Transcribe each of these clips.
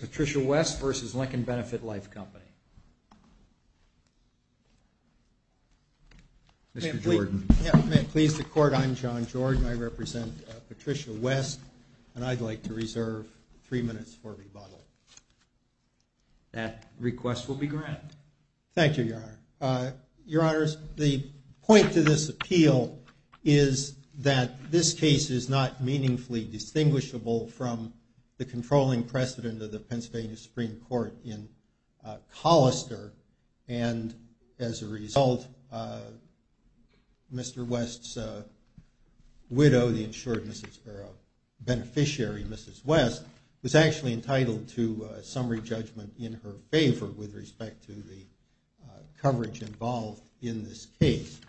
Patricia West v. Lincoln Benefit Life Company. Mr. Jordan. May it please the Court, I'm John Jordan. I represent Patricia West, and I'd like to reserve three minutes for rebuttal. That request will be granted. Thank you, Your Honor. Your Honors, the point to this appeal is that this case is not meaningfully distinguishable from the controlling precedent of the Pennsylvania Supreme Court in Collister, and as a result, Mr. West's widow, the insured beneficiary, Mrs. West, was actually entitled to a summary judgment in her favor with respect to the coverage involved in this case.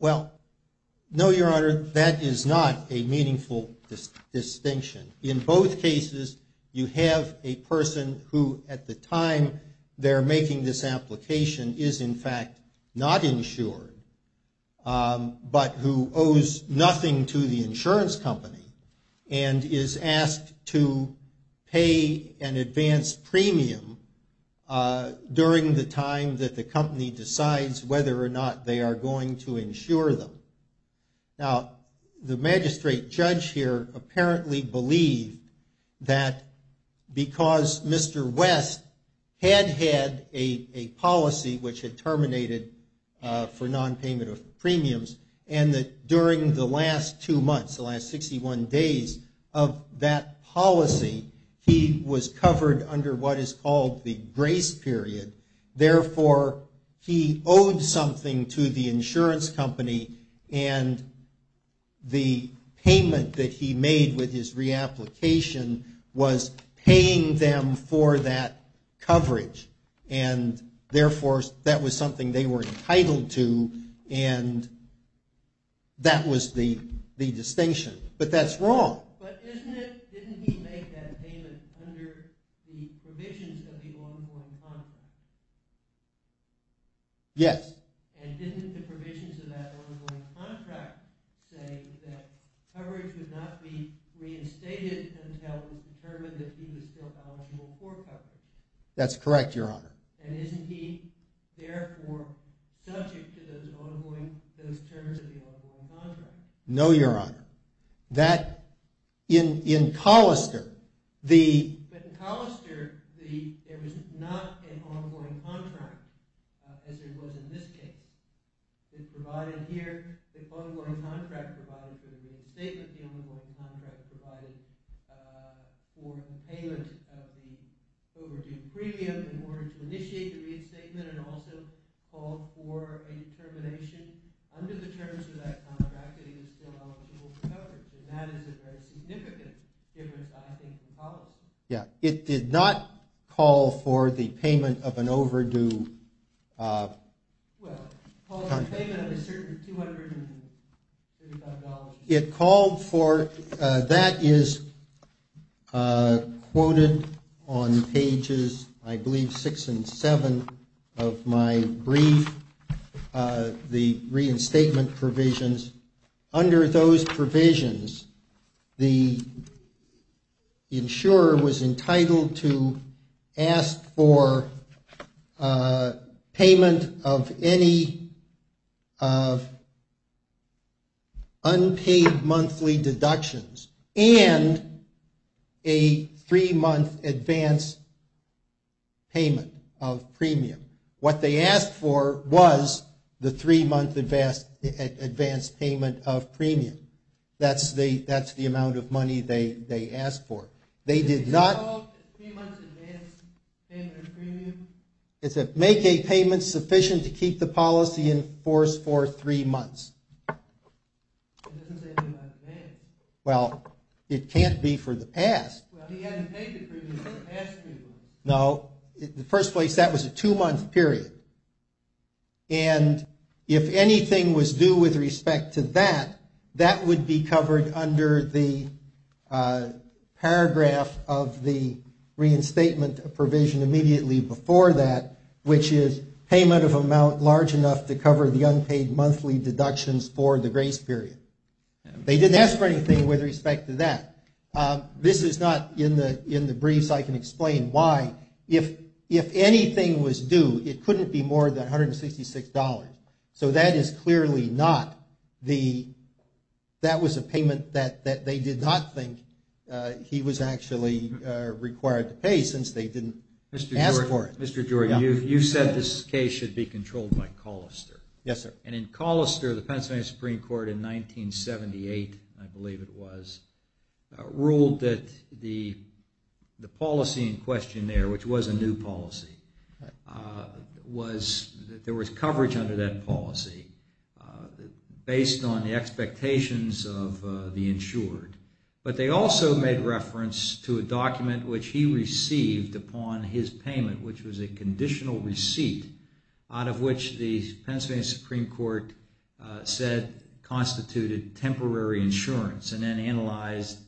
Well, no, Your Honor, that is not a meaningful distinction. In both cases, you have a person who, at the time they're making this application, is in fact not insured, but who owes nothing to the insurance company and is asked to pay an advance premium during the time that the company decides whether or not they are going to insure them. Now, the magistrate judge here apparently believed that because Mr. West had had a policy which had terminated for non-payment of premiums, and that during the last two months, the last 61 days of that policy, he was covered under what is called the grace period. Therefore, he owed something to the insurance company, and the payment that he made with his reapplication was paying them for that coverage. Therefore, that was something they were entitled to, and that was the distinction. But that's wrong. But didn't he make that payment under the provisions of the ongoing contract? Yes. And didn't the provisions of that ongoing contract say that coverage would not be reinstated until it was determined that he was still eligible for coverage? That's correct, Your Honor. And isn't he therefore subject to those ongoing, those terms of the ongoing contract? No, Your Honor. That, in Collister, the... It's provided here. The ongoing contract provides for the reinstatement. The ongoing contract provides for the payment of the overdue premium in order to initiate the reinstatement and also call for a determination under the terms of that contract that he was still eligible for coverage. And that is a very significant difference, I think, in Collister. Yeah. It did not call for the payment of an overdue... Well, it called for the payment of a certain $235. Well, it called for... That is quoted on pages, I believe, six and seven of my brief, the reinstatement provisions. Under those provisions, the insurer was entitled to ask for payment of any unpaid monthly deductions and a three-month advance payment of premium. What they asked for was the three-month advance payment of premium. That's the amount of money they asked for. They did not... Three-month advance payment of premium? It said, make a payment sufficient to keep the policy in force for three months. It doesn't say three months advance. Well, it can't be for the past. Well, he hadn't paid the premium for the past three months. No. In the first place, that was a two-month period. And if anything was due with respect to that, that would be covered under the paragraph of the reinstatement provision immediately before that, which is payment of amount large enough to cover the unpaid monthly deductions for the grace period. They didn't ask for anything with respect to that. This is not in the briefs. I can explain why. If anything was due, it couldn't be more than $166. So that is clearly not the... That was a payment that they did not think he was actually required to pay since they didn't ask for it. Mr. Jory, you said this case should be controlled by Colister. Yes, sir. And in Colister, the Pennsylvania Supreme Court in 1978, I believe it was, ruled that the policy in question there, which was a new policy, was that there was coverage under that policy based on the expectations of the insured. But they also made reference to a document which he received upon his payment, which was a conditional receipt out of which the Pennsylvania Supreme Court said constituted temporary insurance and then analyzed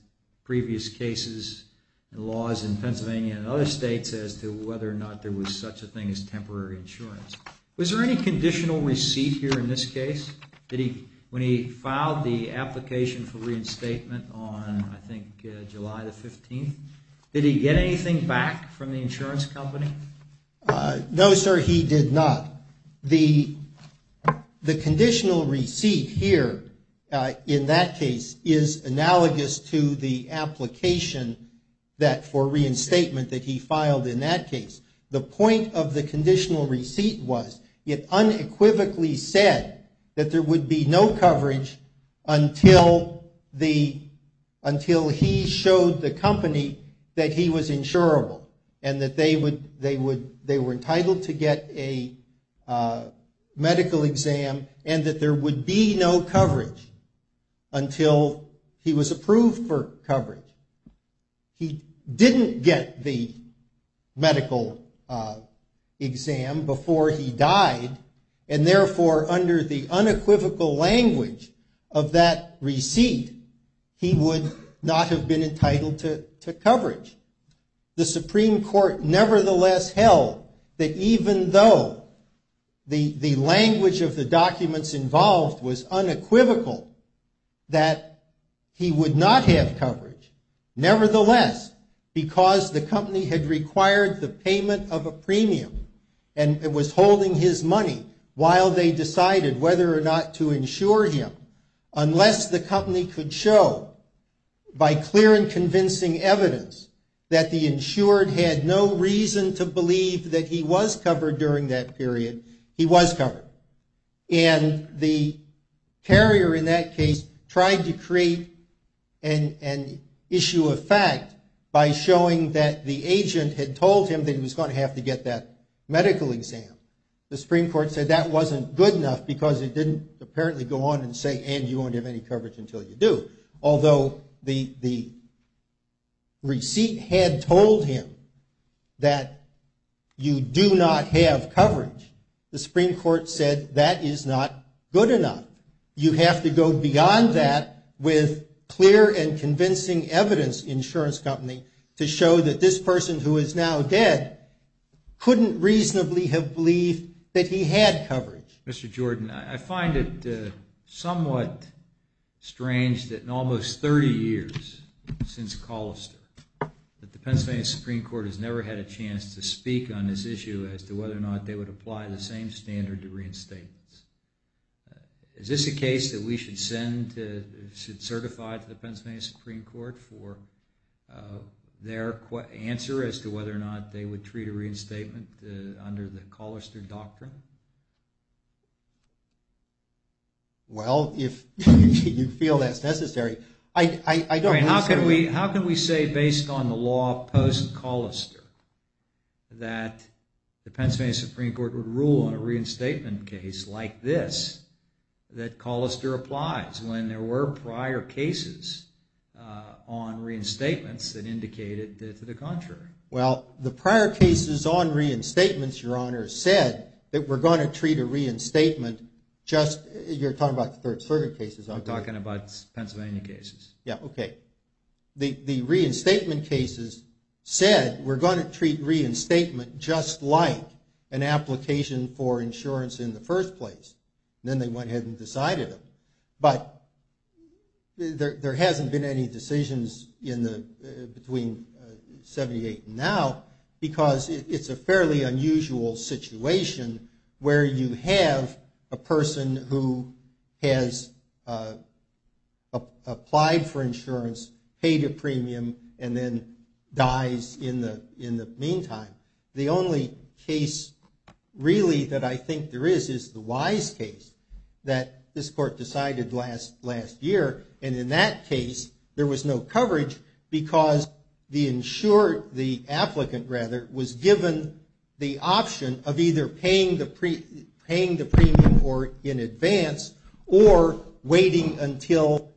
previous cases and laws in Pennsylvania and other states as to whether or not there was such a thing as temporary insurance. Was there any conditional receipt here in this case? When he filed the application for reinstatement on, I think, July the 15th, did he get anything back from the insurance company? No, sir, he did not. The conditional receipt here in that case is analogous to the application for reinstatement that he filed in that case. The point of the conditional receipt was it unequivocally said that there would be no coverage until he showed the company that he was insurable and that they were entitled to get a medical exam and that there would be no coverage until he was approved for coverage. He didn't get the medical exam before he died and, therefore, under the unequivocal language of that receipt, he would not have been entitled to coverage. The Supreme Court nevertheless held that even though the language of the documents involved was unequivocal, that he would not have coverage, nevertheless, because the company had required the payment of a premium and was holding his money while they decided whether or not to insure him, unless the company could show, by clear and convincing evidence, that the insured had no reason to believe that he was covered during that period, he was covered. The carrier in that case tried to create an issue of fact by showing that the agent had told him that he was going to have to get that medical exam. The Supreme Court said that wasn't good enough because it didn't apparently go on and say, and you won't have any coverage until you do. Although the receipt had told him that you do not have coverage, the Supreme Court said that is not good enough. You have to go beyond that with clear and convincing evidence, insurance company, to show that this person who is now dead couldn't reasonably have believed that he had coverage. Mr. Jordan, I find it somewhat strange that in almost 30 years since Collister, that the Pennsylvania Supreme Court has never had a chance to speak on this issue as to whether or not they would apply the same standard to reinstatements. Is this a case that we should send, should certify to the Pennsylvania Supreme Court for their answer as to whether or not they would treat a reinstatement under the Collister doctrine? How can we say based on the law post-Collister that the Pennsylvania Supreme Court would rule on a reinstatement case like this that Collister applies when there were prior cases on reinstatements that indicated to the contrary? Well, the prior cases on reinstatements, Your Honor, said that we're going to treat a reinstatement just, you're talking about third circuit cases, aren't you? I'm talking about Pennsylvania cases. Yeah, okay. The reinstatement cases said we're going to treat reinstatement just like an application for insurance in the first place. Then they went ahead and decided it. But there hasn't been any decisions between 1978 and now because it's a fairly unusual situation where you have a person who has applied for insurance, paid a premium, and then dies in the meantime. The only case really that I think there is is the Wise case that this court decided last year, and in that case there was no coverage because the insured, the applicant rather, was given the option of either paying the premium in advance or waiting until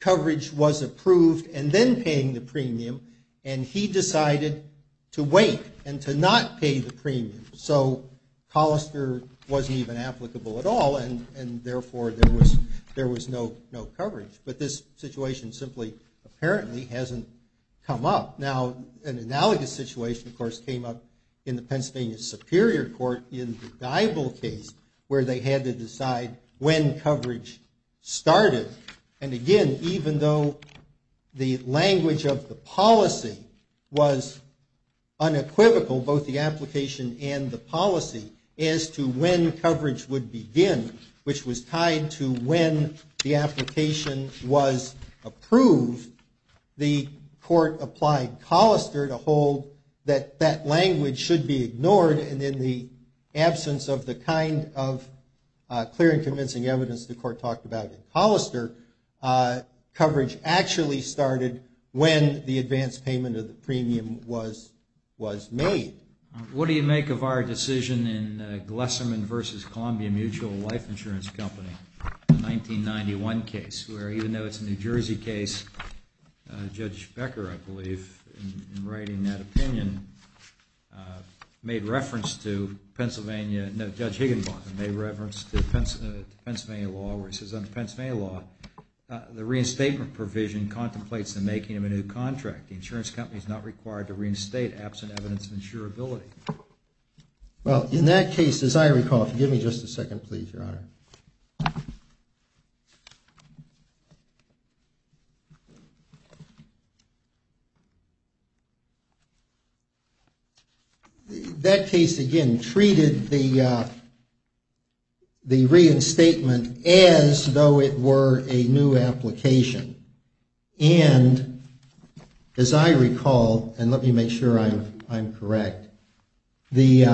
coverage was approved and then paying the premium, and he decided to wait and to not pay the premium. So, Collister wasn't even applicable at all, and therefore there was no coverage. But this situation simply apparently hasn't come up. Now, an analogous situation, of course, came up in the Pennsylvania Superior Court in the Dibal case where they had to decide when coverage started. And again, even though the language of the policy was unequivocal, both the application and the policy, as to when coverage would begin, which was tied to when the application was approved, the court applied Collister to hold that that language should be ignored, and in the absence of the kind of clear and convincing evidence the court talked about in Collister, coverage actually started when the advance payment of the premium was made. What do you make of our decision in Glesserman v. Columbia Mutual Life Insurance Company, the 1991 case, where even though it's a New Jersey case, Judge Becker, I believe, in writing that opinion, made reference to Pennsylvania, no, Judge Higginbotham, made reference to Pennsylvania law where he says, under Pennsylvania law, the reinstatement provision contemplates the making of a new contract. The insurance company is not required to reinstate absent evidence of insurability. Well, in that case, as I recall, forgive me just a second, please, Your Honor. That case, again, treated the reinstatement as though it were a new application. And as I recall, and let me make sure I'm correct, the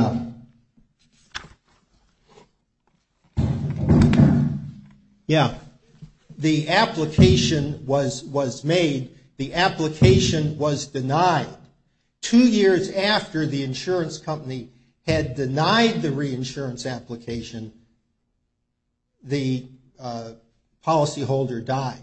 application was made, the application was denied. Two years after the insurance company had denied the reinsurance application, the policyholder died.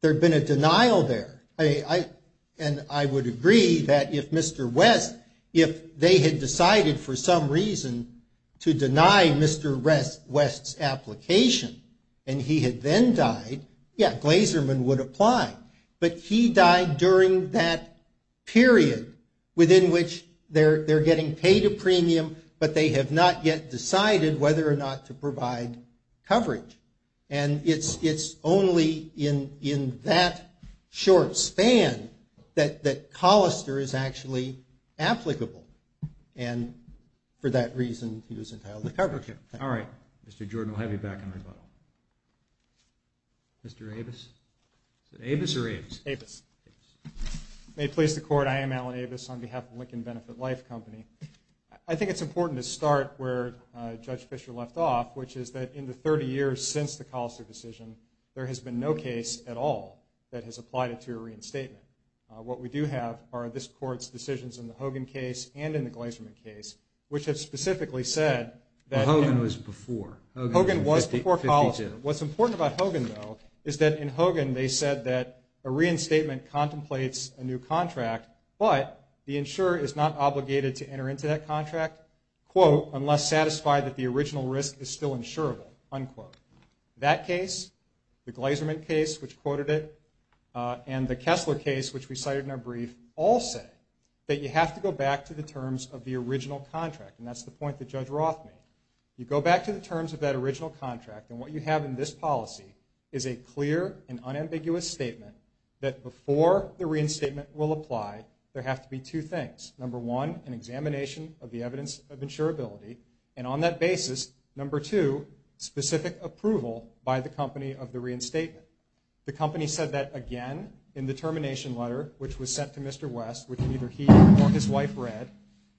There had been a denial there, and I would agree that if Mr. West, if they had decided for some reason to deny Mr. West's application and he had then died, yeah, Glesserman would apply. But he died during that period within which they're getting paid a premium, but they have not yet decided whether or not to provide coverage. And it's only in that short span that Collister is actually applicable. And for that reason, he was entitled to coverage. Okay. All right. Mr. Jordan, we'll have you back in rebuttal. Mr. Avis? Is it Avis or Avis? Avis. May it please the Court, I am Alan Avis on behalf of Lincoln Benefit Life Company. I think it's important to start where Judge Fischer left off, which is that in the 30 years since the Collister decision, there has been no case at all that has applied it to a reinstatement. What we do have are this Court's decisions in the Hogan case and in the Glesserman case, which have specifically said that Hogan was before Collister. What's important about Hogan, though, is that in Hogan, they said that a reinstatement contemplates a new contract, but the insurer is not obligated to enter into that contract, quote, unless satisfied that the original risk is still insurable, unquote. That case, the Glesserman case, which quoted it, and the Kessler case, which we cited in our brief, all say that you have to go back to the terms of the original contract, and that's the point that Judge Roth made. You go back to the terms of that original contract, and what you have in this policy is a clear and unambiguous statement that before the reinstatement will apply, there have to be two things. Number one, an examination of the evidence of insurability, and on that basis, number two, specific approval by the company of the reinstatement. The company said that again in the termination letter, which was sent to Mr. West, which neither he nor his wife read,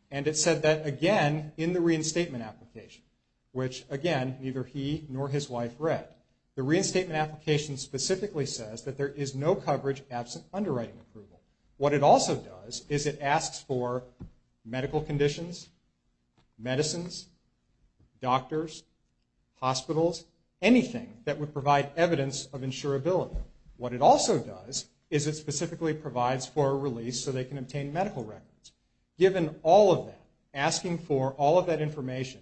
and it said that again in the reinstatement application, which, again, neither he nor his wife read. The reinstatement application specifically says that there is no coverage absent underwriting approval. What it also does is it asks for medical conditions, medicines, doctors, hospitals, anything that would provide evidence of insurability. What it also does is it specifically provides for a release so they can obtain medical records. Given all of that, asking for all of that information,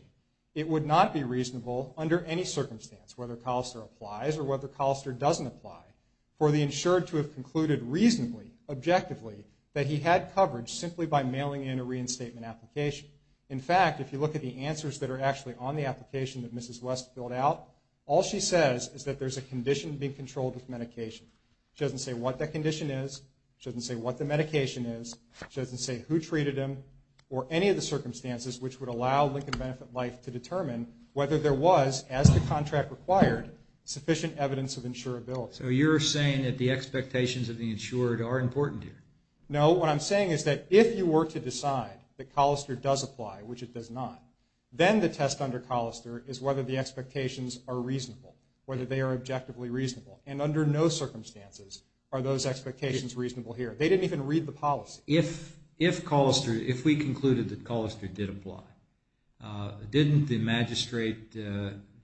it would not be reasonable under any circumstance, whether Collister applies or whether Collister doesn't apply, for the insured to have concluded reasonably, objectively, that he had coverage simply by mailing in a reinstatement application. In fact, if you look at the answers that are actually on the application that Mrs. West filled out, all she says is that there's a condition being controlled with medication. She doesn't say what that condition is. She doesn't say what the medication is. She doesn't say who treated him or any of the circumstances which would allow Lincoln Benefit Life to determine whether there was, as the contract required, sufficient evidence of insurability. So you're saying that the expectations of the insured are important here? No, what I'm saying is that if you were to decide that Collister does apply, which it does not, then the test under Collister is whether the expectations are reasonable, whether they are objectively reasonable. And under no circumstances are those expectations reasonable here. They didn't even read the policy. If Collister, if we concluded that Collister did apply, didn't the magistrate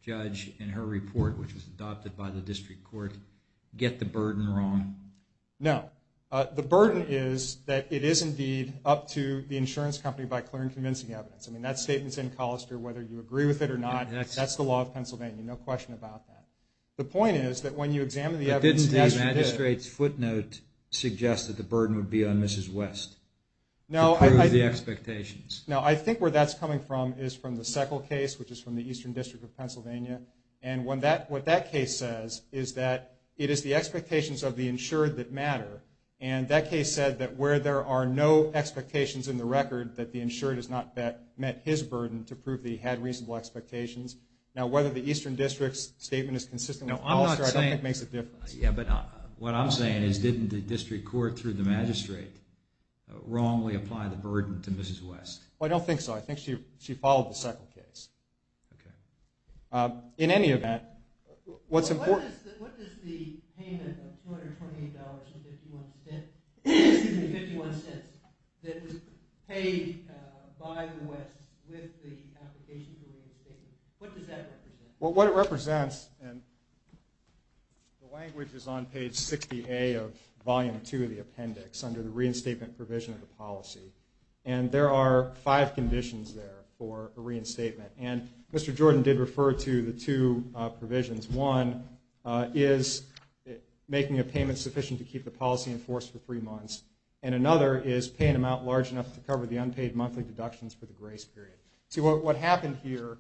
judge in her report, which was adopted by the district court, get the burden wrong? No. The burden is that it is indeed up to the insurance company by clearing convincing evidence. I mean, that statement's in Collister whether you agree with it or not. That's the law of Pennsylvania. No question about that. The point is that when you examine the evidence... But didn't the magistrate's footnote suggest that the burden would be on Mrs. West to prove the expectations? No, I think where that's coming from is from the Seckle case, which is from the Eastern District of Pennsylvania. And what that case says is that it is the expectations of the insured that matter. And that case said that where there are no expectations in the record that the insured has not met his burden to prove that he had reasonable expectations. Now, whether the Eastern District's statement is consistent with Collister I don't think makes a difference. Yeah, but what I'm saying is didn't the district court through the magistrate wrongly apply the burden to Mrs. West? I don't think so. I think she followed the Seckle case. In any event, what's important... What does the payment of $228.51 that was paid by the West with the application for reinstatement, what does that represent? Well, what it represents, and the language is on page 60A of volume 2 of the appendix And there are five conditions there for a reinstatement. And Mr. Jordan did refer to the two provisions. One is making a payment sufficient to keep the policy in force for three months. And another is paying an amount large enough to cover the unpaid monthly deductions for the grace period. See, what happened here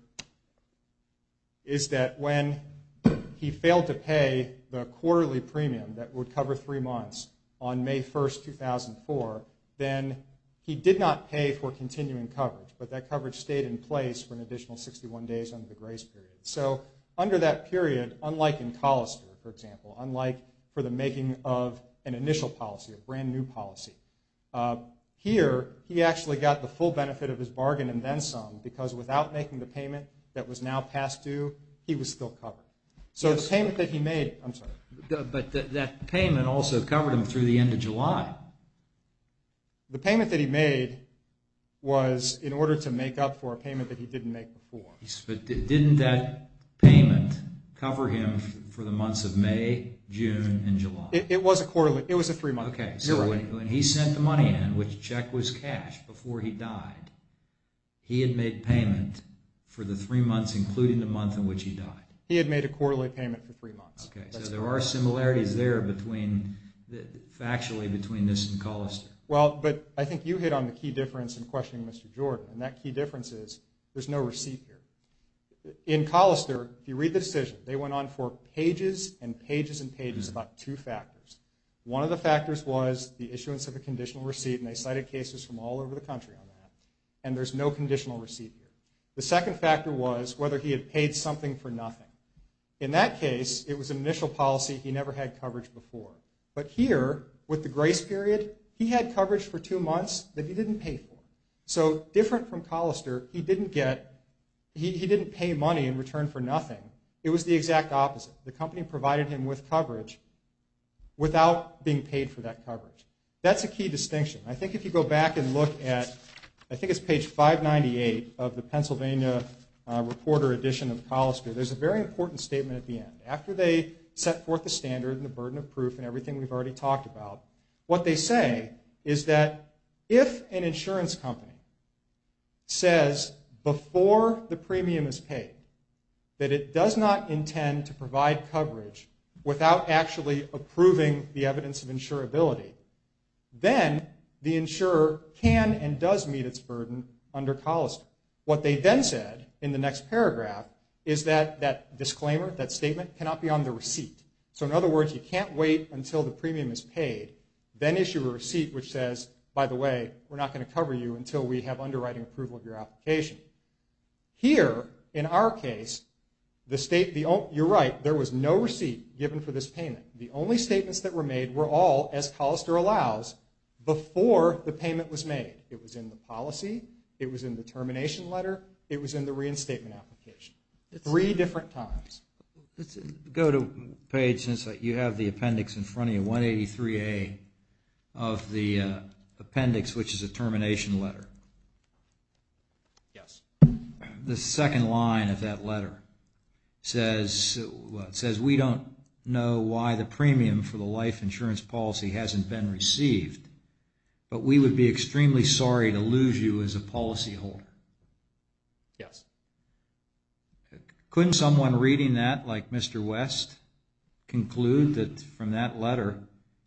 is that when he failed to pay the quarterly premium that would cover three months on May 1st, 2004, then he did not pay for continuing coverage. But that coverage stayed in place for an additional 61 days under the grace period. So under that period, unlike in Collister, for example, unlike for the making of an initial policy, a brand-new policy, here he actually got the full benefit of his bargain and then some because without making the payment that was now past due, he was still covered. So the payment that he made... I'm sorry. But that payment also covered him through the end of July. The payment that he made was in order to make up for a payment that he didn't make before. But didn't that payment cover him for the months of May, June, and July? It was a three-month. Okay, so when he sent the money in, which check was cash, before he died, he had made payment for the three months, including the month in which he died. He had made a quarterly payment for three months. Okay, so there are similarities there factually between this and Collister. Well, but I think you hit on the key difference in questioning Mr. Jordan, and that key difference is there's no receipt here. In Collister, if you read the decision, they went on for pages and pages and pages about two factors. One of the factors was the issuance of a conditional receipt, and they cited cases from all over the country on that, and there's no conditional receipt here. The second factor was whether he had paid something for nothing. In that case, it was an initial policy. He never had coverage before. But here, with the grace period, he had coverage for two months that he didn't pay for. So different from Collister, he didn't pay money in return for nothing. It was the exact opposite. The company provided him with coverage without being paid for that coverage. That's a key distinction. I think if you go back and look at, I think it's page 598 of the Pennsylvania Reporter Edition of Collister, there's a very important statement at the end. After they set forth the standard and the burden of proof and everything we've already talked about, what they say is that if an insurance company says before the premium is paid that it does not intend to provide coverage without actually approving the evidence of insurability, then the insurer can and does meet its burden under Collister. What they then said in the next paragraph is that that disclaimer, that statement, cannot be on the receipt. So in other words, you can't wait until the premium is paid, then issue a receipt which says, by the way, we're not going to cover you until we have underwriting approval of your application. Here, in our case, you're right, there was no receipt given for this payment. The only statements that were made were all, as Collister allows, before the payment was made. It was in the policy, it was in the termination letter, it was in the reinstatement application. Three different times. Let's go to page, since you have the appendix in front of you, 183A of the appendix, which is a termination letter. Yes. The second line of that letter says, we don't know why the premium for the life insurance policy hasn't been received, but we would be extremely sorry to lose you as a policyholder. Yes. Couldn't someone reading that, like Mr. West, conclude that from that letter,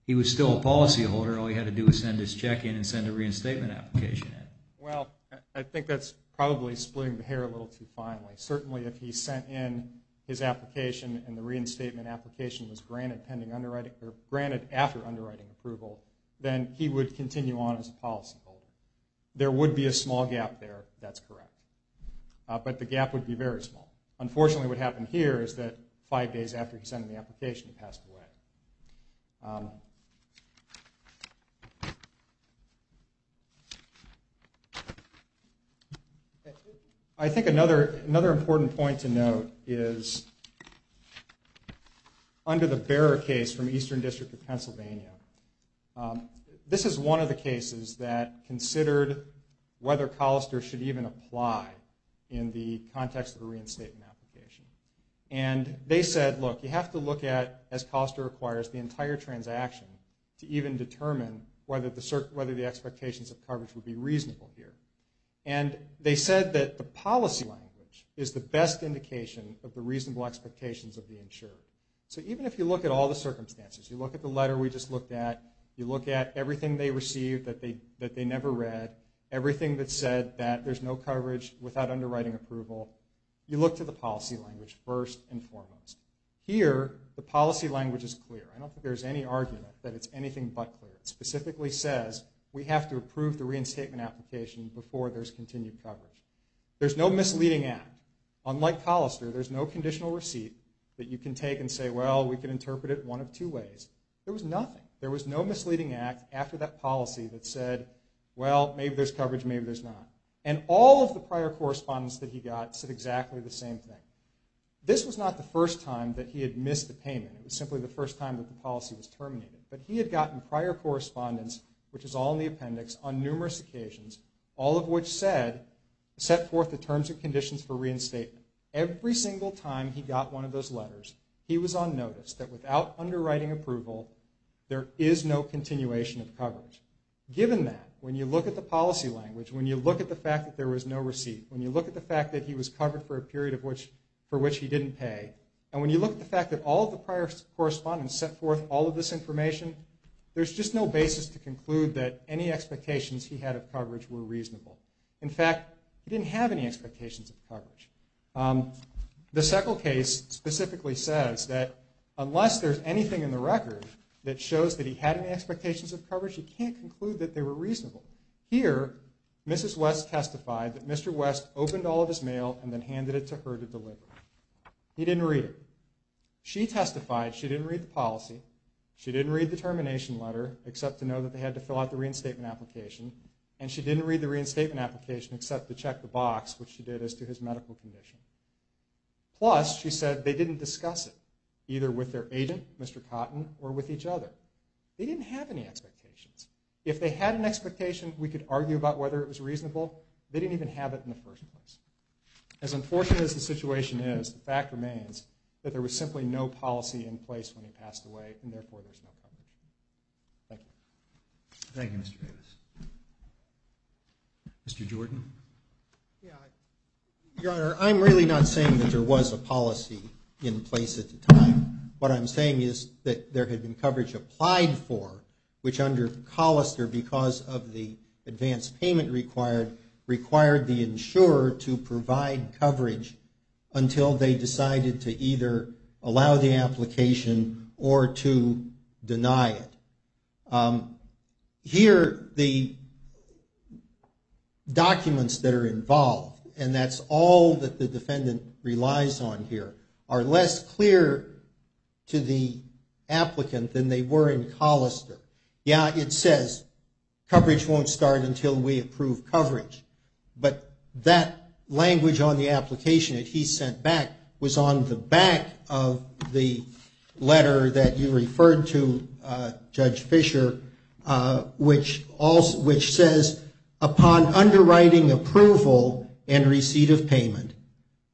he was still a policyholder, all he had to do was send his check in and send a reinstatement application in? Well, I think that's probably splitting the hair a little too finely. Certainly if he sent in his application and the reinstatement application was granted after underwriting approval, then he would continue on as a policyholder. There would be a small gap there, that's correct. But the gap would be very small. Unfortunately, what happened here is that five days after he sent in the application, it passed away. I think another important point to note is, under the Bearer case from Eastern District of Pennsylvania, this is one of the cases that considered whether Colister should even apply in the context of a reinstatement application. And they said, look, you have to look at, as Colister requires, the entire transaction to even determine whether the expectations of coverage would be reasonable here. And they said that the policy language is the best indication of the reasonable expectations of the insurer. So even if you look at all the circumstances, you look at the letter we just looked at, you look at everything they received that they never read, everything that said that there's no coverage without underwriting approval, you look to the policy language first and foremost. Here, the policy language is clear. I don't think there's any argument that it's anything but clear. It specifically says we have to approve the reinstatement application before there's continued coverage. There's no misleading act. Unlike Colister, there's no conditional receipt that you can take and say, well, we can interpret it one of two ways. There was nothing. There was no misleading act after that policy that said, well, maybe there's coverage, maybe there's not. And all of the prior correspondence that he got said exactly the same thing. This was not the first time that he had missed a payment. It was simply the first time that the policy was terminated. But he had gotten prior correspondence, which is all in the appendix, on numerous occasions, all of which set forth the terms and conditions for reinstatement. Every single time he got one of those letters, he was on notice that without underwriting approval, there is no continuation of coverage. Given that, when you look at the policy language, when you look at the fact that there was no receipt, when you look at the fact that he was covered for a period for which he didn't pay, and when you look at the fact that all of the prior correspondence set forth all of this information, there's just no basis to conclude that any expectations he had of coverage were reasonable. In fact, he didn't have any expectations of coverage. The Seckle case specifically says that unless there's anything in the record that shows that he had any expectations of coverage, you can't conclude that they were reasonable. Here, Mrs. West testified that Mr. West opened all of his mail and then handed it to her to deliver. He didn't read it. She testified she didn't read the policy. She didn't read the termination letter, except to know that they had to fill out the reinstatement application. And she didn't read the reinstatement application, except to check the box, which she did as to his medical condition. Plus, she said they didn't discuss it, either with their agent, Mr. Cotton, or with each other. They didn't have any expectations. If they had an expectation we could argue about whether it was reasonable, they didn't even have it in the first place. As unfortunate as the situation is, the fact remains that there was simply no policy in place when he passed away, and therefore there's no coverage. Thank you. Thank you, Mr. Davis. Mr. Jordan. Your Honor, I'm really not saying that there was a policy in place at the time. What I'm saying is that there had been coverage applied for, which under Collister, because of the advance payment required, required the insurer to provide coverage until they decided to either allow the application or to deny it. Here, the documents that are involved, and that's all that the defendant relies on here, are less clear to the applicant than they were in Collister. Yeah, it says coverage won't start until we approve coverage, but that language on the application that he sent back was on the back of the letter that you referred to, Judge Fischer, which says, upon underwriting approval and receipt of payment,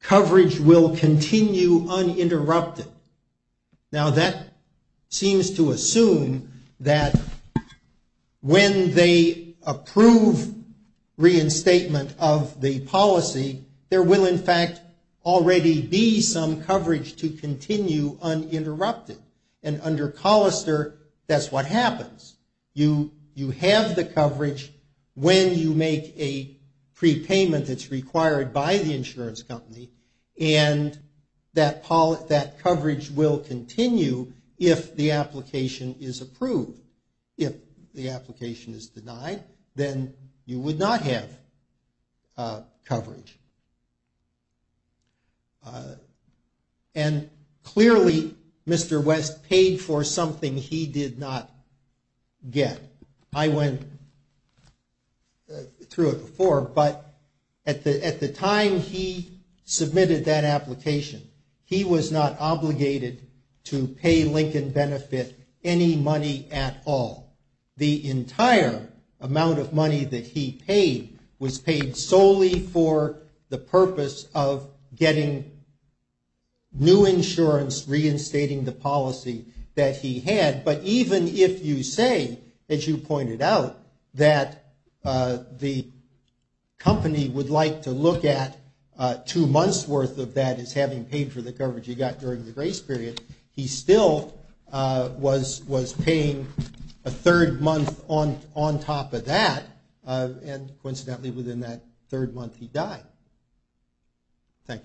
coverage will continue uninterrupted. Now, that seems to assume that when they approve reinstatement, of the policy, there will, in fact, already be some coverage to continue uninterrupted. And under Collister, that's what happens. You have the coverage when you make a prepayment that's required by the insurance company, and that coverage will continue if the application is approved. If the application is denied, then you would not have coverage. And clearly, Mr. West paid for something he did not get. I went through it before, but at the time he submitted that application, he was not obligated to pay Lincoln Benefit any money at all. The entire amount of money that he paid was paid solely for the purpose of getting new insurance, reinstating the policy that he had. But even if you say, as you pointed out, that the company would like to look at two months' worth of that as having paid for the coverage he got during the grace period, he still was paying a third month on top of that. And coincidentally, within that third month, he died. Thank you.